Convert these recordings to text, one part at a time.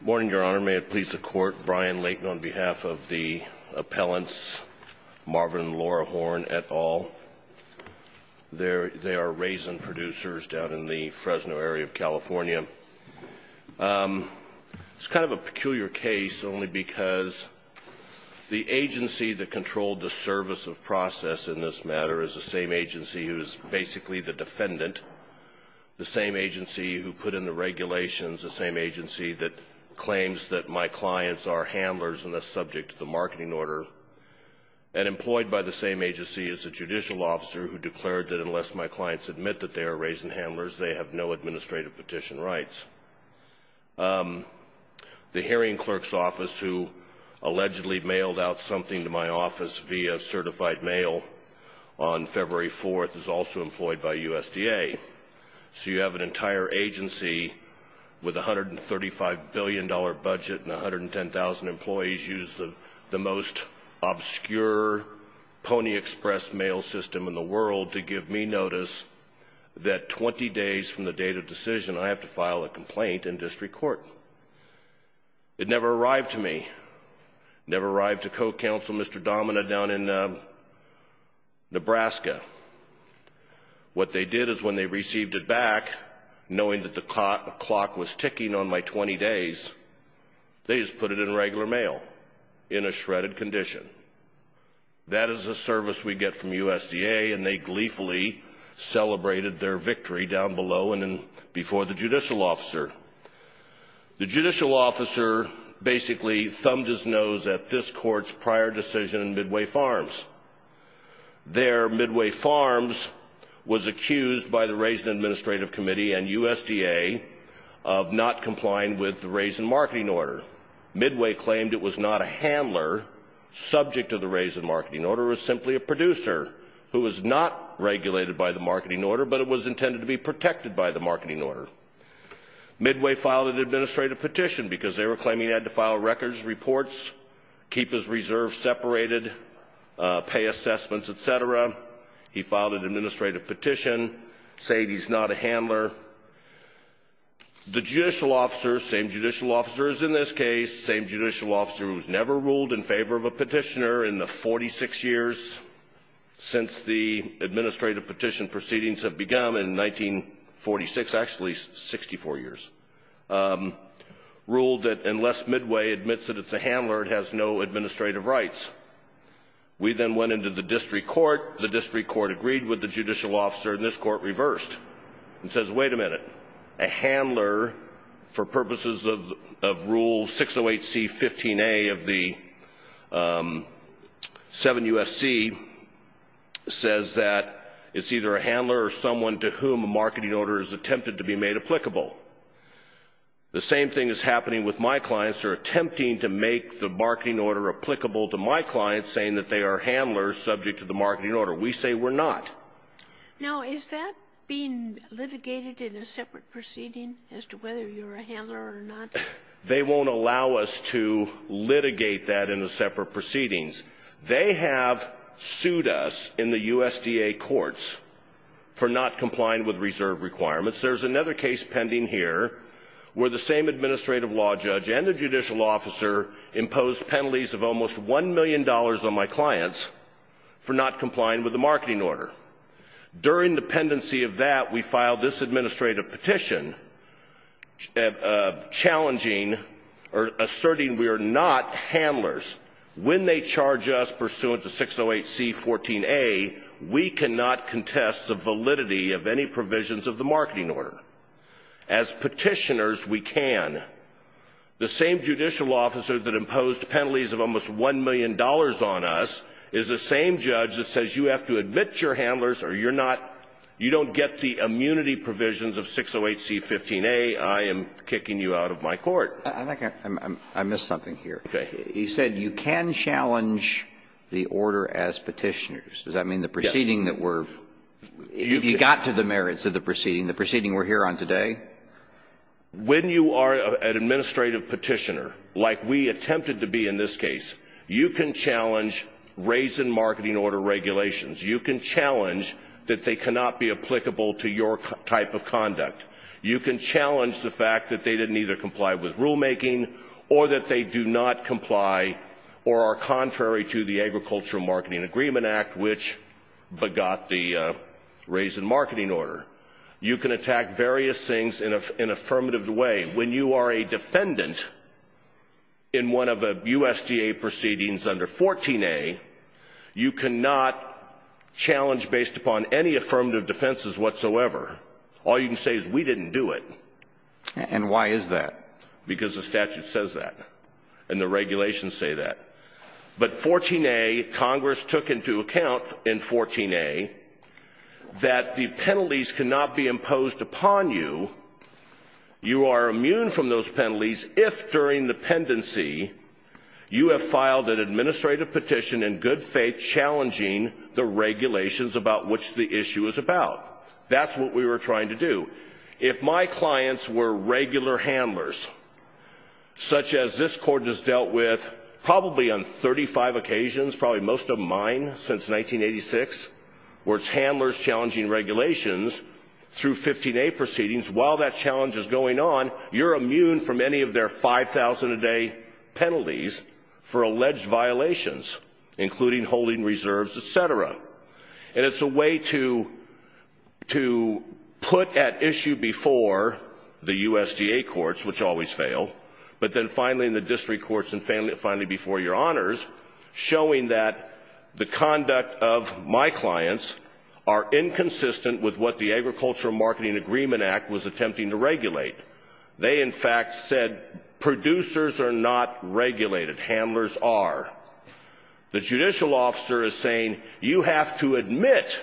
Good morning, Your Honor. May it please the Court, Brian Layton on behalf of the appellants Marvin and Laura Horne et al. They are raisin producers down in the Fresno area of California. It's kind of a peculiar case only because the agency that controlled the service of process in this matter is the same agency who is basically the defendant, the same agency who put in the regulations, the same agency that claims that my clients are handlers unless subject to the marketing order, and employed by the same agency as a judicial officer who declared that unless my clients admit that they are raisin handlers, they have no administrative petition rights. The hearing clerk's office who allegedly mailed out something to my office via certified mail on February 4th is also employed by USDA. So you have an entire agency with a $135 billion budget and 110,000 employees use the most obscure Pony Express mail system in the world to give me notice that 20 days from the date of decision I have to file a complaint in district court. It never arrived to me, never arrived to co-counsel Mr. Domina down in Nebraska. What they did is when they received it back, knowing that the clock was ticking on my 20 days, they just put it in regular mail in a shredded condition. That is a service we get from USDA, and they gleefully celebrated their victory down below and before the judicial officer. The judicial officer basically thumbed his nose at this court's prior decision in Midway Farms. There, Midway Farms was accused by the Raisin Administrative Committee and USDA of not complying with the raisin marketing order. Midway claimed it was not a handler subject to the raisin marketing order. It was simply a producer who was not regulated by the marketing order, but it was intended to be protected by the marketing order. Midway filed an administrative petition because they were claiming he had to file records reports, keep his reserves separated, pay assessments, etc. He filed an administrative petition saying he's not a handler. The judicial officer, same judicial officer as in this case, same judicial officer who's never ruled in favor of a petitioner in the 46 years since the administrative petition proceedings have begun, in 1946, actually 64 years, ruled that unless Midway admits that it's a handler, it has no administrative rights. We then went into the district court. The district court agreed with the judicial officer, and this court reversed and says, wait a minute, a handler for purposes of Rule 608C.15a of the 7 U.S.C. says that it's either a handler or someone to whom a marketing order is attempted to be made applicable. The same thing is happening with my clients who are attempting to make the marketing order applicable to my clients saying that they are handlers subject to the marketing order. We say we're not. Now, is that being litigated in a separate proceeding as to whether you're a handler or not? They won't allow us to litigate that in the separate proceedings. They have sued us in the USDA courts for not complying with reserve requirements. There's another case pending here where the same administrative law judge and the judicial officer imposed penalties of almost $1 million on my clients for not complying with the marketing order. During the pendency of that, we filed this administrative petition challenging or asserting we are not handlers. When they charge us pursuant to 608C.14a, we cannot contest the validity of any provisions of the marketing order. As petitioners, we can. The same judicial officer that imposed penalties of almost $1 million on us is the same judge that says you have to admit you're handlers or you're not you don't get the immunity provisions of 608C.15a. I am kicking you out of my court. I think I missed something here. He said you can challenge the order as petitioners. Does that mean the proceeding that we're... Yes. If you got to the merits of the proceeding, the proceeding we're here on today? When you are an administrative petitioner, like we attempted to be in this case, you can challenge raise in marketing order regulations. You can challenge that they cannot be applicable to your type of conduct. You can challenge the fact that they didn't either comply with rulemaking or that they do not comply or are contrary to the Agricultural Marketing Agreement Act, which begot the raise in marketing order. You can attack various things in an affirmative way. When you are a defendant in one of the USDA proceedings under 14a, you cannot challenge based upon any affirmative defenses whatsoever. All you can say is we didn't do it. And why is that? Because the statute says that. And the regulations say that. But 14a, Congress took into account in 14a that the penalties cannot be imposed upon you. You are immune from those penalties if during the pendency you have filed an administrative petition in good faith challenging the regulations about which the issue is about. That's what we were trying to do. If my clients were regular handlers, such as this court has dealt with probably on 35 occasions, probably most of mine since 1986, where it's handlers challenging regulations through 15a proceedings, while that challenge is going on, you're immune from any of their 5,000-a-day penalties for alleged violations, including holding reserves, et cetera. And it's a way to put at issue before the USDA courts, which always fail, but then finally in the district courts and finally before your honors, showing that the conduct of my clients are inconsistent with what the Agricultural Marketing Agreement Act was attempting to regulate. They, in fact, said producers are not regulated. Handlers are. The judicial officer is saying you have to admit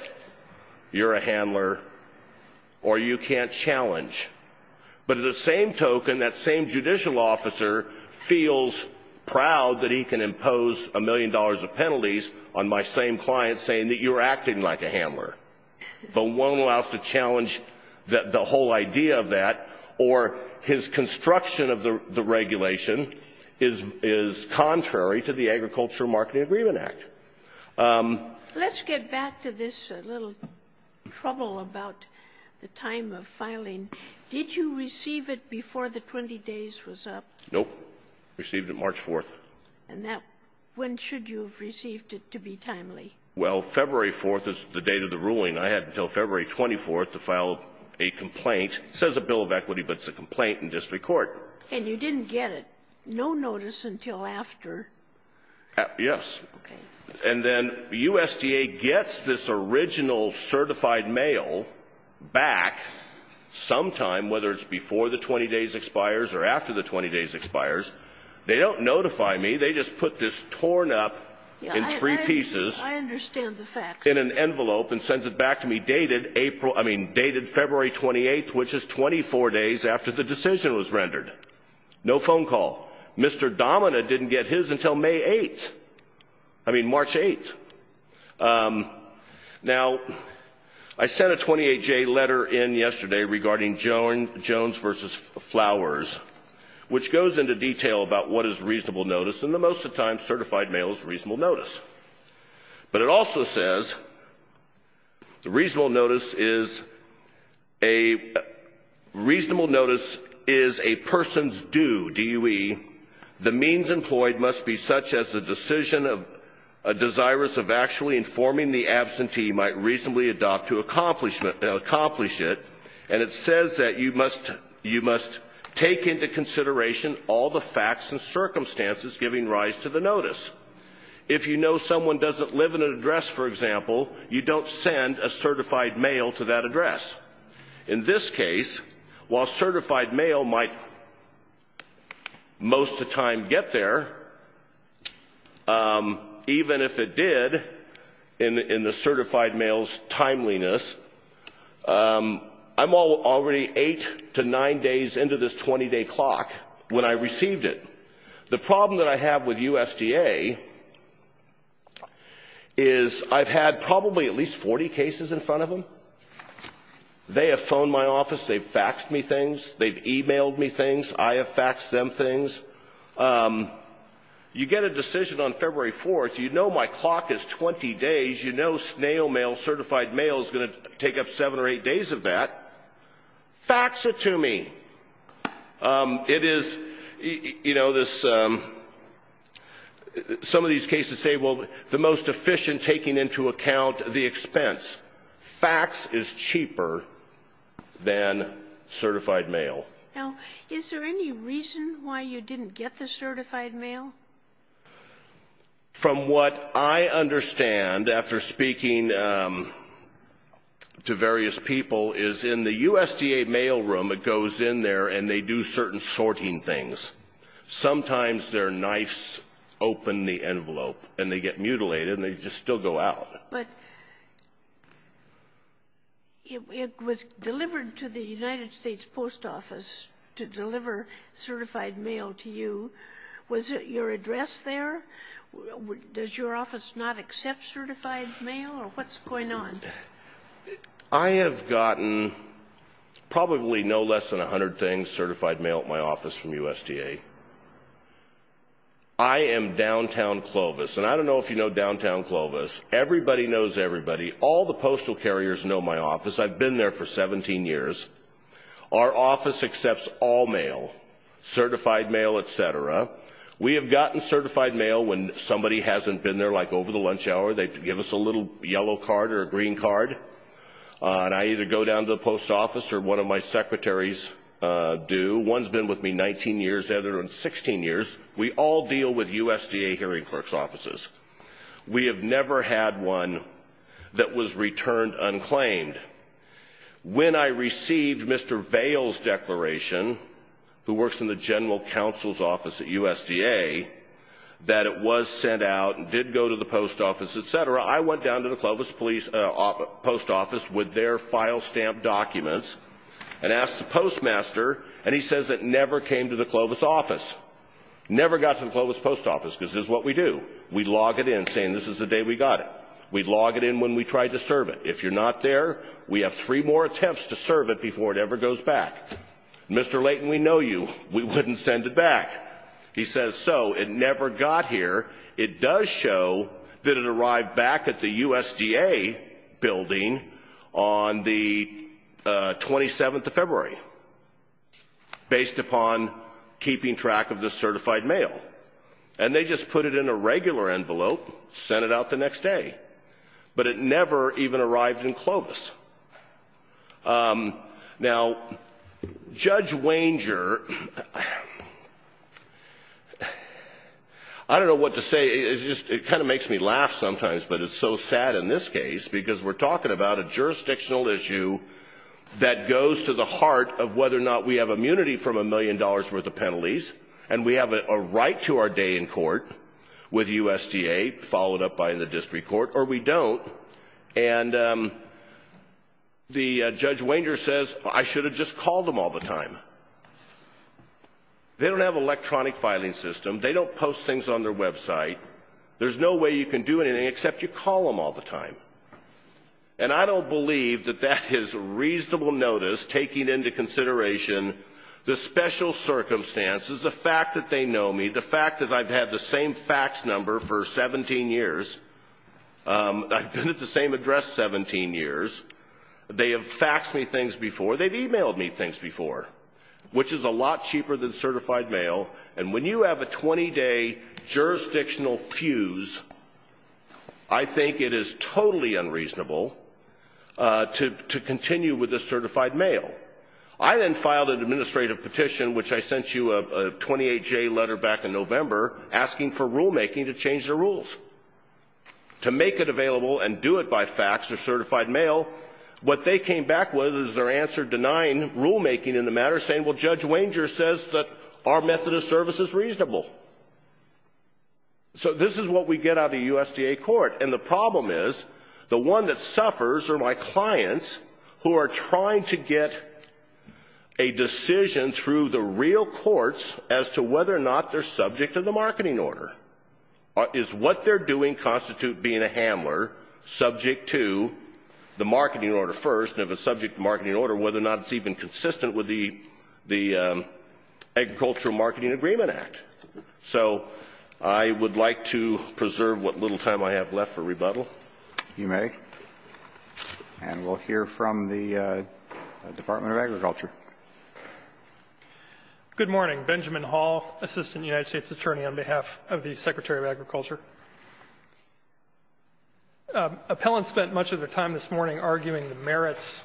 you're a handler or you can't challenge. But at the same token, that same judicial officer feels proud that he can impose a million dollars of penalties on my same client saying that you're acting like a handler, but won't allow us to challenge the whole idea of that or his construction of the regulation is contrary to the Agricultural Marketing Agreement Act. Let's get back to this little trouble about the time of filing. Did you receive it before the 20 days was up? Nope. Received it March 4th. And that when should you have received it to be timely? Well, February 4th is the date of the ruling. I had until February 24th to file a complaint. It says a bill of equity, but it's a complaint in district court. And you didn't get it, no notice until after? Yes. Okay. And then USDA gets this original certified mail back sometime, whether it's before the 20 days expires or after the 20 days expires. They don't notify me. They just put this torn up in three pieces in an envelope and sends it back to me dated April, I mean dated February 28th, which is 24 days after the decision was rendered. No phone call. Mr. Domina didn't get his until May 8th, I mean March 8th. Now, I sent a 28-J letter in yesterday regarding Jones v. Flowers, which goes into detail about what is reasonable notice, and most of the time certified mail is reasonable notice. But it also says reasonable notice is a person's due, D-U-E. The means employed must be such as the decision of a desirous of actually informing the absentee might reasonably adopt to accomplish it. And it says that you must take into consideration all the facts and circumstances giving rise to the notice. If you know someone doesn't live in an address, for example, you don't send a certified mail to that address. In this case, while certified mail might most of the time get there, even if it did, in the certified mail's timeliness, I'm already eight to nine days into this 20-day clock when I received it. The problem that I have with USDA is I've had probably at least 40 cases in front of them. They have phoned my office. They've faxed me things. They've e-mailed me things. I have faxed them things. You get a decision on February 4th. You know my clock is 20 days. You know snail mail, certified mail, is going to take up seven or eight days of that. Fax it to me. It is, you know, some of these cases say, well, the most efficient taking into account the expense. Fax is cheaper than certified mail. Now, is there any reason why you didn't get the certified mail? From what I understand, after speaking to various people, is in the USDA mail room, it goes in there and they do certain sorting things. Sometimes their knives open the envelope and they get mutilated and they just still go out. But it was delivered to the United States Post Office to deliver certified mail to you. Was your address there? Does your office not accept certified mail, or what's going on? I have gotten probably no less than 100 things, certified mail, at my office from USDA. I am downtown Clovis. And I don't know if you know downtown Clovis. Everybody knows everybody. All the postal carriers know my office. I've been there for 17 years. Our office accepts all mail, certified mail, et cetera. We have gotten certified mail when somebody hasn't been there, like over the lunch hour. They give us a little yellow card or a green card. And I either go down to the post office or one of my secretaries do. One's been with me 19 years, the other 16 years. We all deal with USDA hearing clerk's offices. We have never had one that was returned unclaimed. When I received Mr. Vail's declaration, who works in the general counsel's office at USDA, that it was sent out and did go to the post office, et cetera, I went down to the Clovis post office with their file stamp documents and asked the postmaster, and he says it never came to the Clovis office. Never got to the Clovis post office because this is what we do. We log it in saying this is the day we got it. We log it in when we try to serve it. If you're not there, we have three more attempts to serve it before it ever goes back. Mr. Layton, we know you. We wouldn't send it back. He says so. It never got here. It does show that it arrived back at the USDA building on the 27th of February, based upon keeping track of the certified mail. And they just put it in a regular envelope, sent it out the next day. Now, Judge Wanger, I don't know what to say. It kind of makes me laugh sometimes, but it's so sad in this case because we're talking about a jurisdictional issue that goes to the heart of whether or not we have immunity from a million dollars' worth of penalties, and we have a right to our day in court with USDA, followed up by the district court, or we don't, and Judge Wanger says, I should have just called them all the time. They don't have an electronic filing system. They don't post things on their website. There's no way you can do anything except you call them all the time. And I don't believe that that is reasonable notice taking into consideration the special circumstances, the fact that they know me, the fact that I've had the same fax number for 17 years, I've been at the same address 17 years, they have faxed me things before, they've emailed me things before, which is a lot cheaper than certified mail. And when you have a 20-day jurisdictional fuse, I think it is totally unreasonable to continue with the certified mail. I then filed an administrative petition, which I sent you a 28-J letter back in November, asking for rulemaking to change the rules. To make it available and do it by fax or certified mail, what they came back with is their answer denying rulemaking in the matter, saying, well, Judge Wanger says that our method of service is reasonable. So this is what we get out of the USDA court. And the problem is the one that suffers are my clients who are trying to get a decision through the real courts as to whether or not they're subject to the marketing order. Is what they're doing constitute being a handler subject to the marketing order first, and if it's subject to the marketing order, whether or not it's even consistent with the Agricultural Marketing Agreement Act? So I would like to preserve what little time I have left for rebuttal, if you may. And we'll hear from the Department of Agriculture. Good morning. Benjamin Hall, Assistant United States Attorney on behalf of the Secretary of Agriculture. Appellants spent much of their time this morning arguing the merits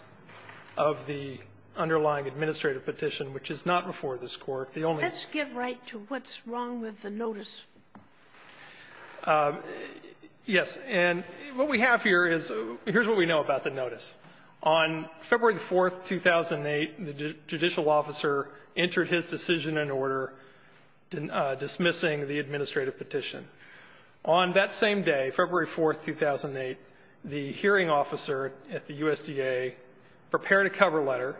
of the underlying administrative petition, which is not before this Court. Let's get right to what's wrong with the notice. Yes. And what we have here is here's what we know about the notice. On February 4th, 2008, the judicial officer entered his decision in order dismissing the administrative petition. On that same day, February 4th, 2008, the hearing officer at the USDA prepared a cover letter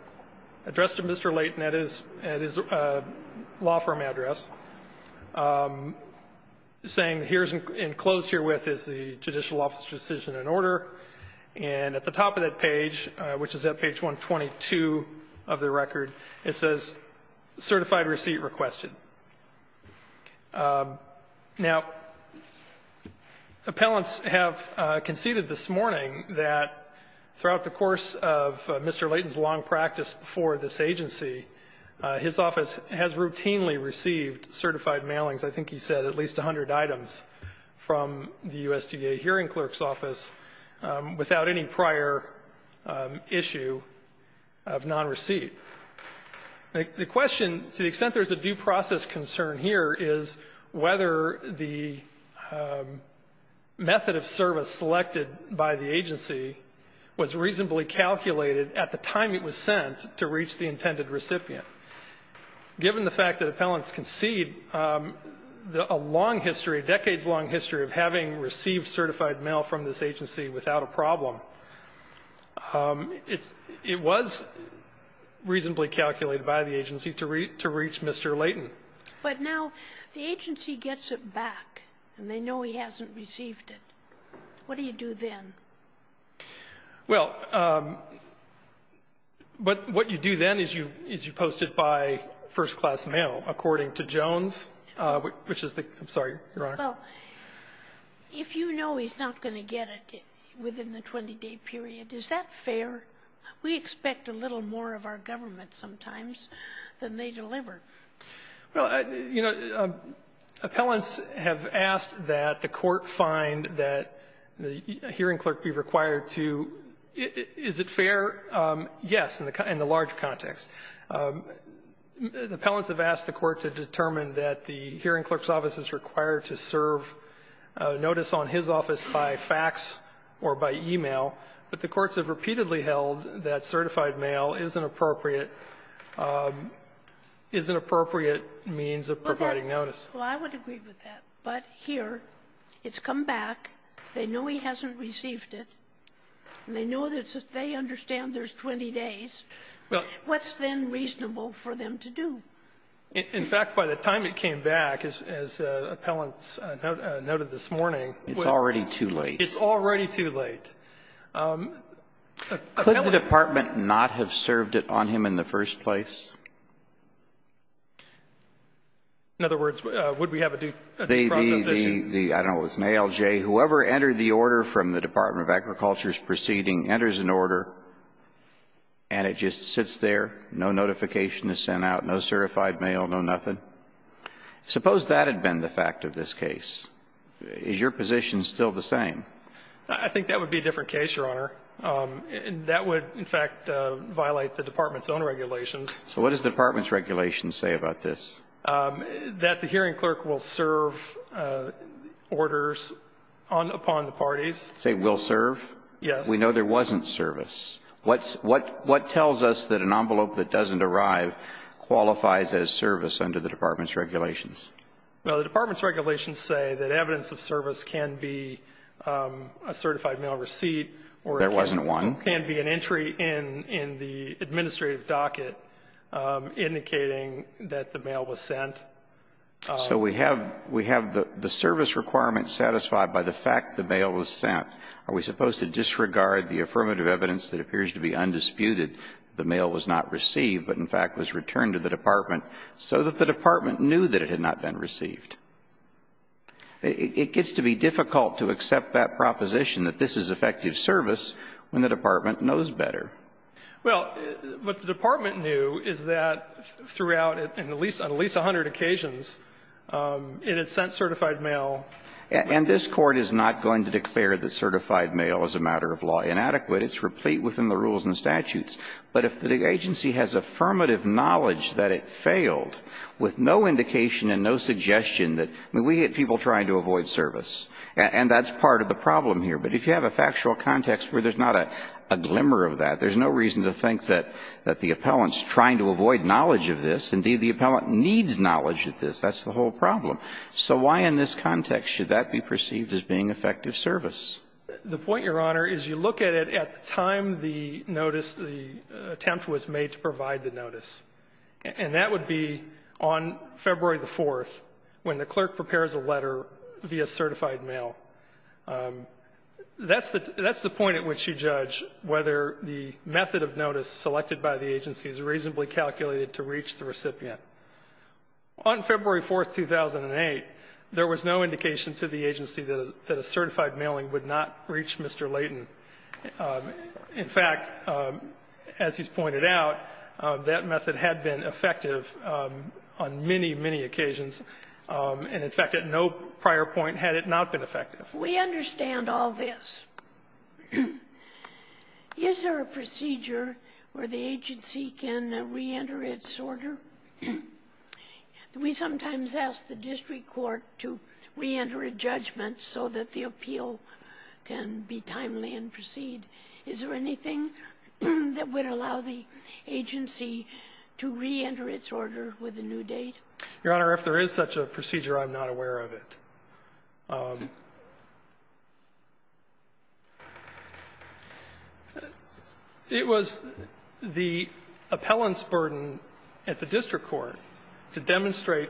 addressed to Mr. Layton at his law firm address, saying here's enclosed herewith is the judicial officer's decision in order. And at the top of that page, which is at page 122 of the record, it says, Certified Receipt Requested. Now, appellants have conceded this morning that throughout the course of Mr. Layton's long practice for this agency, his office has routinely received certified mailings, I think he said at least 100 items, from the USDA hearing clerk's office without any prior issue of nonreceipt. The question, to the extent there's a due process concern here, is whether the method of service selected by the agency was reasonably calculated at the time it was sent to reach the intended recipient. Given the fact that appellants concede a long history, decades-long history of having received certified mail from this agency without a problem, it was reasonably calculated by the agency to reach Mr. Layton. But now the agency gets it back, and they know he hasn't received it. What do you do then? Well, what you do then is you post it by first-class mail, according to Jones, which is the, I'm sorry, Your Honor. Well, if you know he's not going to get it within the 20-day period, is that fair? We expect a little more of our government sometimes than they deliver. Well, you know, appellants have asked that the Court find that the hearing clerk be required to – is it fair? Yes, in the large context. The appellants have asked the Court to determine that the hearing clerk's office is required to serve notice on his office by fax or by e-mail, but the courts have repeatedly held that certified mail is an appropriate – is an appropriate means of providing notice. Well, I would agree with that. But here, it's come back. They know he hasn't received it. And they know that they understand there's 20 days. Well – What's then reasonable for them to do? In fact, by the time it came back, as appellants noted this morning – It's already too late. It's already too late. Could the department not have served it on him in the first place? In other words, would we have a due process issue? The – I don't know if it was an ALJ. Whoever entered the order from the Department of Agriculture's proceeding enters an order, and it just sits there. No notification is sent out. No certified mail. No nothing. Suppose that had been the fact of this case. Is your position still the same? I think that would be a different case, Your Honor. That would, in fact, violate the department's own regulations. So what does the department's regulations say about this? That the hearing clerk will serve orders on – upon the parties. Say will serve? Yes. We know there wasn't service. What tells us that an envelope that doesn't arrive qualifies as service under the department's regulations? Well, the department's regulations say that evidence of service can be a certified mail receipt or – There wasn't one. – can be an entry in the administrative docket indicating that the mail was sent. So we have the service requirement satisfied by the fact the mail was sent. Are we supposed to disregard the affirmative evidence that appears to be undisputed that the mail was not received but, in fact, was returned to the department so that the department knew that it had not been received? It gets to be difficult to accept that proposition that this is effective service when the department knows better. Well, what the department knew is that throughout, and at least on at least 100 occasions, it had sent certified mail. And this Court is not going to declare that certified mail is a matter of law inadequate. It's replete within the rules and statutes. But if the agency has affirmative knowledge that it failed with no indication and no suggestion that – I mean, we get people trying to avoid service. And that's part of the problem here. But if you have a factual context where there's not a glimmer of that, there's no reason to think that the appellant's trying to avoid knowledge of this. Indeed, the appellant needs knowledge of this. That's the whole problem. So why in this context should that be perceived as being effective service? The point, Your Honor, is you look at it at the time the notice, the attempt was made to provide the notice. And that would be on February the 4th when the clerk prepares a letter via certified mail. That's the point at which you judge whether the method of notice selected by the agency is reasonably calculated to reach the recipient. On February 4th, 2008, there was no indication to the agency that a certified mailing would not reach Mr. Layton. In fact, as he's pointed out, that method had been effective on many, many occasions. And, in fact, at no prior point had it not been effective. We understand all this. Is there a procedure where the agency can reenter its order? We sometimes ask the district court to reenter a judgment so that the appeal can be timely and proceed. Is there anything that would allow the agency to reenter its order with a new date? Your Honor, if there is such a procedure, I'm not aware of it. It was the appellant's burden at the district court to demonstrate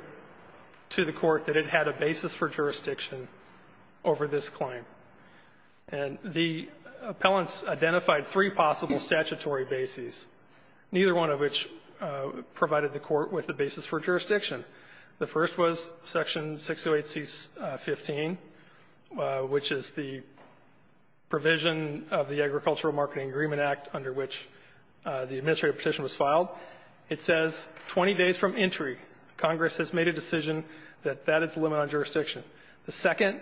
to the court that it had a basis for jurisdiction over this claim. And the appellant's identified three possible statutory bases, neither one of which provided the court with the basis for jurisdiction. The first was Section 608C.15, which is the provision of the Agricultural Marketing Agreement Act under which the administrative petition was filed. It says 20 days from entry, Congress has made a decision that that is the limit on jurisdiction. The second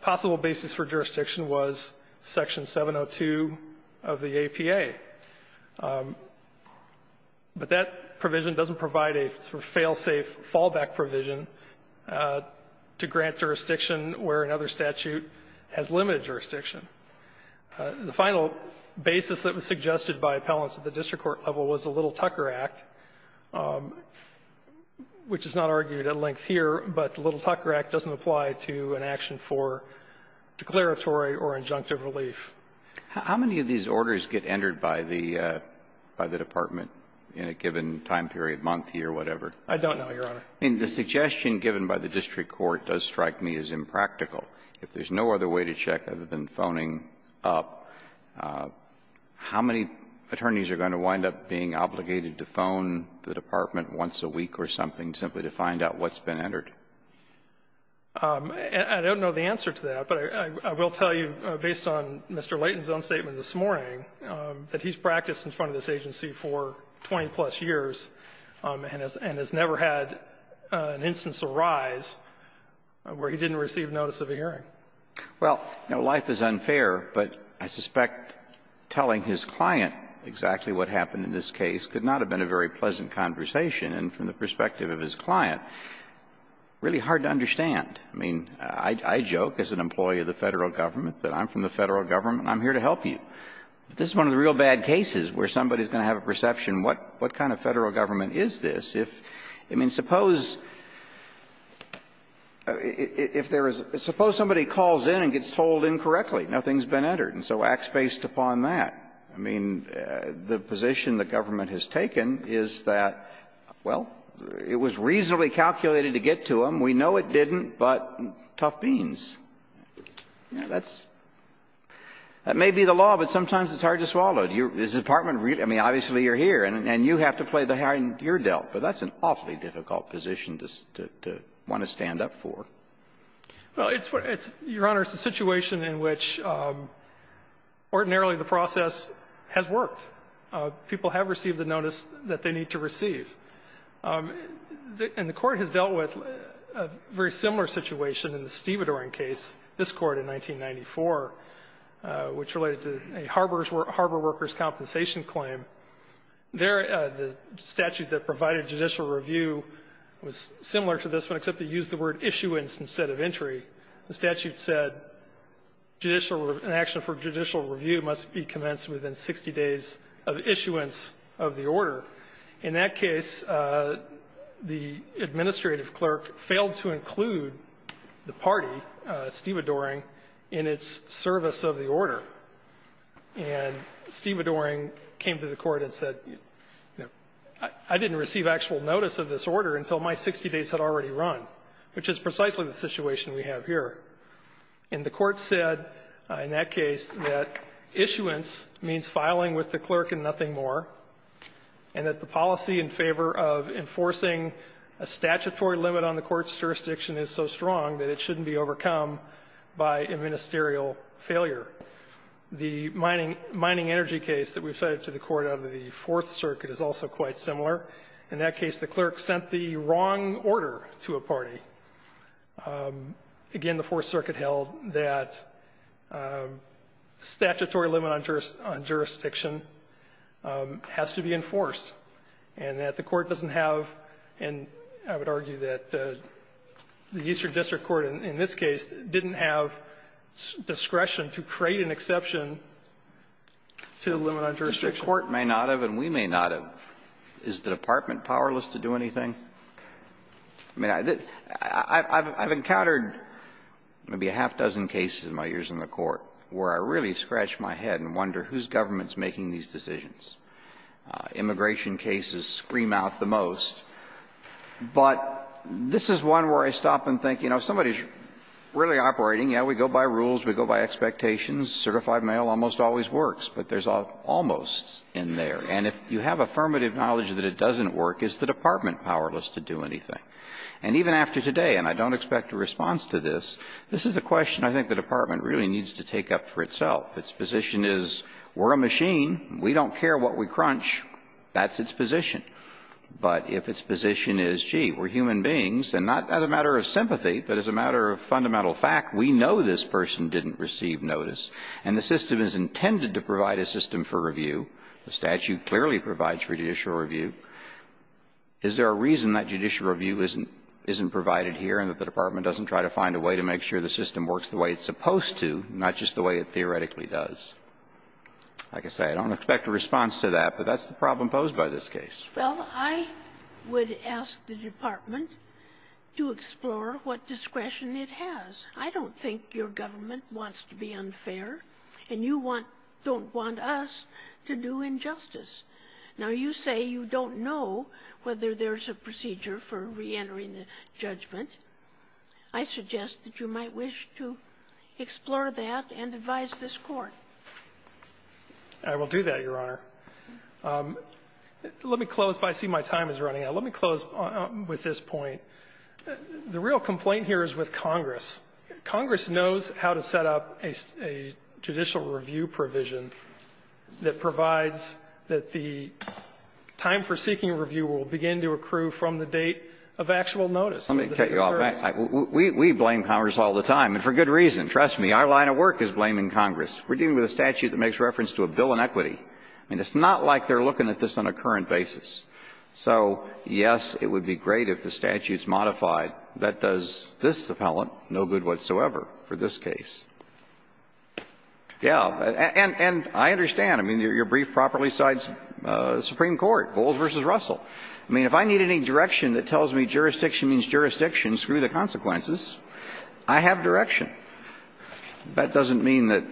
possible basis for jurisdiction was Section 702 of the APA. But that provision doesn't provide a sort of fail-safe fallback provision to grant jurisdiction where another statute has limited jurisdiction. The final basis that was suggested by appellants at the district court level was the Little-Tucker Act, which is not argued at length here, but the Little-Tucker Act doesn't apply to an action for declaratory or injunctive relief. How many of these orders get entered by the department in a given time period, month, year, whatever? I don't know, Your Honor. I mean, the suggestion given by the district court does strike me as impractical. If there's no other way to check other than phoning up, how many attorneys are going to wind up being obligated to phone the department once a week or something simply to find out what's been entered? I don't know the answer to that, but I will tell you, based on Mr. Layton's own statement this morning, that he's practiced in front of this agency for 20-plus years and has never had an instance arise where he didn't receive notice of a hearing. Well, you know, life is unfair, but I suspect telling his client exactly what happened in this case could not have been a very pleasant conversation. And from the perspective of his client, really hard to understand. I mean, I joke as an employee of the Federal Government that I'm from the Federal Government and I'm here to help you. But this is one of the real bad cases where somebody is going to have a perception what kind of Federal Government is this if you mean suppose if there is – suppose somebody calls in and gets told incorrectly, nothing's been entered, and so acts based upon that. I mean, the position the government has taken is that, well, it was reasonably calculated to get to them. We know it didn't, but tough beans. That's – that may be the law, but sometimes it's hard to swallow. Is the Department – I mean, obviously you're here and you have to play the hand you're dealt, but that's an awfully difficult position to want to stand up for. Well, it's – Your Honor, it's a situation in which ordinarily the process has worked. People have received the notice that they need to receive. And the Court has dealt with a very similar situation in the Stievedore case, this Court in 1994, which related to a harbor workers' compensation claim. There – the statute that provided judicial review was similar to this one except they used the word issuance instead of entry. The statute said judicial – an action for judicial review must be commenced within 60 days of issuance of the order. In that case, the administrative clerk failed to include the party, Stievedoring, in its service of the order. And Stievedoring came to the Court and said, you know, I didn't receive actual notice of this order until my 60 days had already run, which is precisely the situation we have here. And the Court said in that case that issuance means filing with the clerk and nothing more, and that the policy in favor of enforcing a statutory limit on the Court's jurisdiction is so strong that it shouldn't be overcome by administerial failure. The mining energy case that we've cited to the Court out of the Fourth Circuit is also quite similar. In that case, the clerk sent the wrong order to a party. Again, the Fourth Circuit held that statutory limit on jurisdiction has to be enforced and that the Court doesn't have, and I would argue that the Eastern District Court in this case didn't have discretion to create an exception to the limit on jurisdiction. Alito, the Court may not have and we may not have. Is the Department powerless to do anything? I mean, I've encountered maybe a half-dozen cases in my years in the Court where I really scratch my head and wonder whose government's making these decisions. Immigration cases scream out the most. But this is one where I stop and think, you know, somebody's really operating. Yeah, we go by rules, we go by expectations. Certified mail almost always works, but there's an almost in there. And if you have affirmative knowledge that it doesn't work, is the Department powerless to do anything? And even after today, and I don't expect a response to this, this is a question I think the Department really needs to take up for itself. If its position is we're a machine, we don't care what we crunch, that's its position. But if its position is, gee, we're human beings, and not as a matter of sympathy, but as a matter of fundamental fact, we know this person didn't receive notice, and the system is intended to provide a system for review, the statute clearly provides for judicial review, is there a reason that judicial review isn't provided here and that the Department doesn't try to find a way to make sure the system works the way it's supposed to, not just the way it theoretically does? Like I say, I don't expect a response to that, but that's the problem posed by this case. Well, I would ask the Department to explore what discretion it has. I don't think your government wants to be unfair, and you want to do injustice. Now, you say you don't know whether there's a procedure for reentering the judgment. I suggest that you might wish to explore that and advise this Court. I will do that, Your Honor. Let me close, but I see my time is running out. Let me close with this point. The real complaint here is with Congress. Congress knows how to set up a judicial review provision that provides that the time for seeking a review will begin to accrue from the date of actual notice. Let me cut you off. We blame Congress all the time, and for good reason. Trust me, our line of work is blaming Congress. We're dealing with a statute that makes reference to a bill in equity. I mean, it's not like they're looking at this on a current basis. So, yes, it would be great if the statute's modified. That does this appellant no good whatsoever for this case. Yeah. And I understand. I mean, your brief properly cites the Supreme Court, Bowles v. Russell. I mean, if I need any direction that tells me jurisdiction means jurisdiction, screw the consequences, I have direction. That doesn't mean that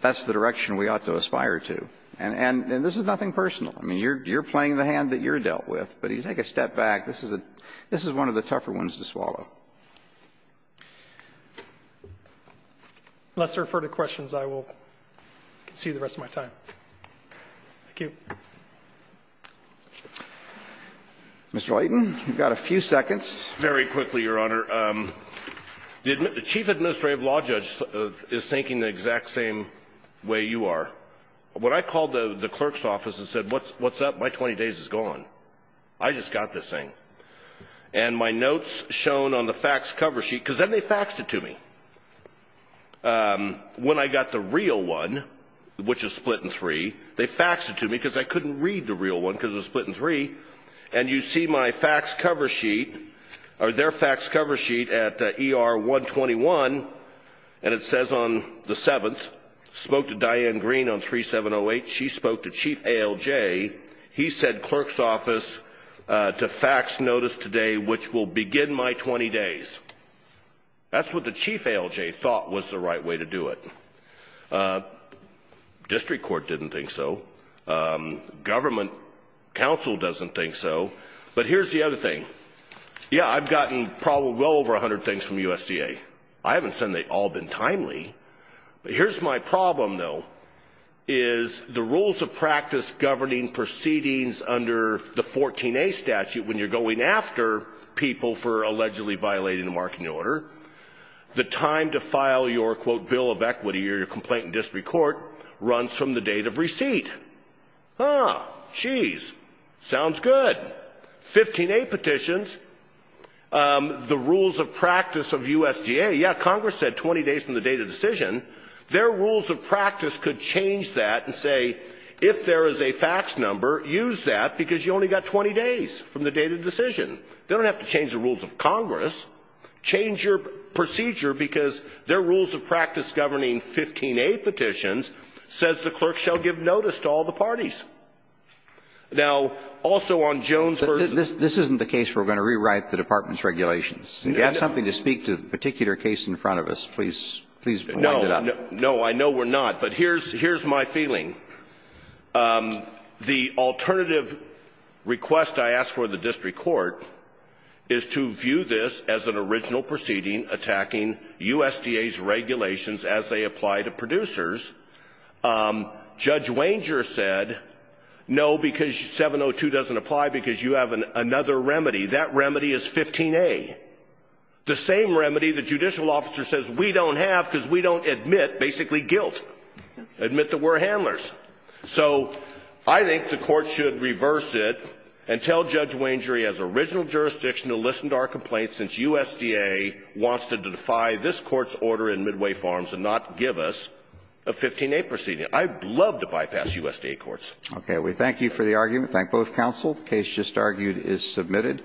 that's the direction we ought to aspire to. And this is nothing personal. I mean, you're playing the hand that you're dealt with. But if you take a step back, this is a one of the tougher ones to swallow. Unless there are further questions, I will concede the rest of my time. Thank you. Mr. Layton, you've got a few seconds. Very quickly, Your Honor. The chief administrative law judge is thinking the exact same way you are. When I called the clerk's office and said, what's up, my 20 days is gone. I just got this thing. And my notes shown on the fax cover sheet, because then they faxed it to me. When I got the real one, which is split in three, they faxed it to me, because I couldn't read the real one, because it was split in three. And you see my fax cover sheet, or their fax cover sheet at ER 121. And it says on the 7th, spoke to Diane Green on 3708. She spoke to Chief ALJ. He said clerk's office to fax notice today, which will begin my 20 days. That's what the Chief ALJ thought was the right way to do it. District court didn't think so. Government counsel doesn't think so. But here's the other thing. Yeah, I've gotten probably well over 100 things from USDA. I haven't said they've all been timely. But here's my problem, though, is the rules of practice governing proceedings under the 14A statute, when you're going after people for allegedly violating the marketing order, the time to file your, quote, bill of equity, or your complaint in district court, runs from the date of receipt. Geez, sounds good, 15A petitions. The rules of practice of USDA, yeah, Congress said 20 days from the date of decision. Their rules of practice could change that and say, if there is a fax number, use that because you only got 20 days from the date of decision. They don't have to change the rules of Congress. Change your procedure because their rules of practice governing 15A petitions says the clerk shall give notice to all the parties. Now, also on Jones versus- This isn't the case we're going to rewrite the department's regulations. If you have something to speak to the particular case in front of us, please wind it up. No, I know we're not, but here's my feeling. The alternative request I asked for the district court is to view this as an original proceeding attacking USDA's regulations as they apply to producers, Judge Wanger said, no, because 702 doesn't apply because you have another remedy. That remedy is 15A, the same remedy the judicial officer says we don't have because we don't admit basically guilt. Admit that we're handlers. So I think the court should reverse it and tell Judge Wanger he has original jurisdiction to listen to our complaints since USDA wants to defy this Court's order in Midway Farms and not give us a 15A proceeding. I'd love to bypass USDA courts. Okay. We thank you for the argument. Thank both counsel. The case just argued is submitted.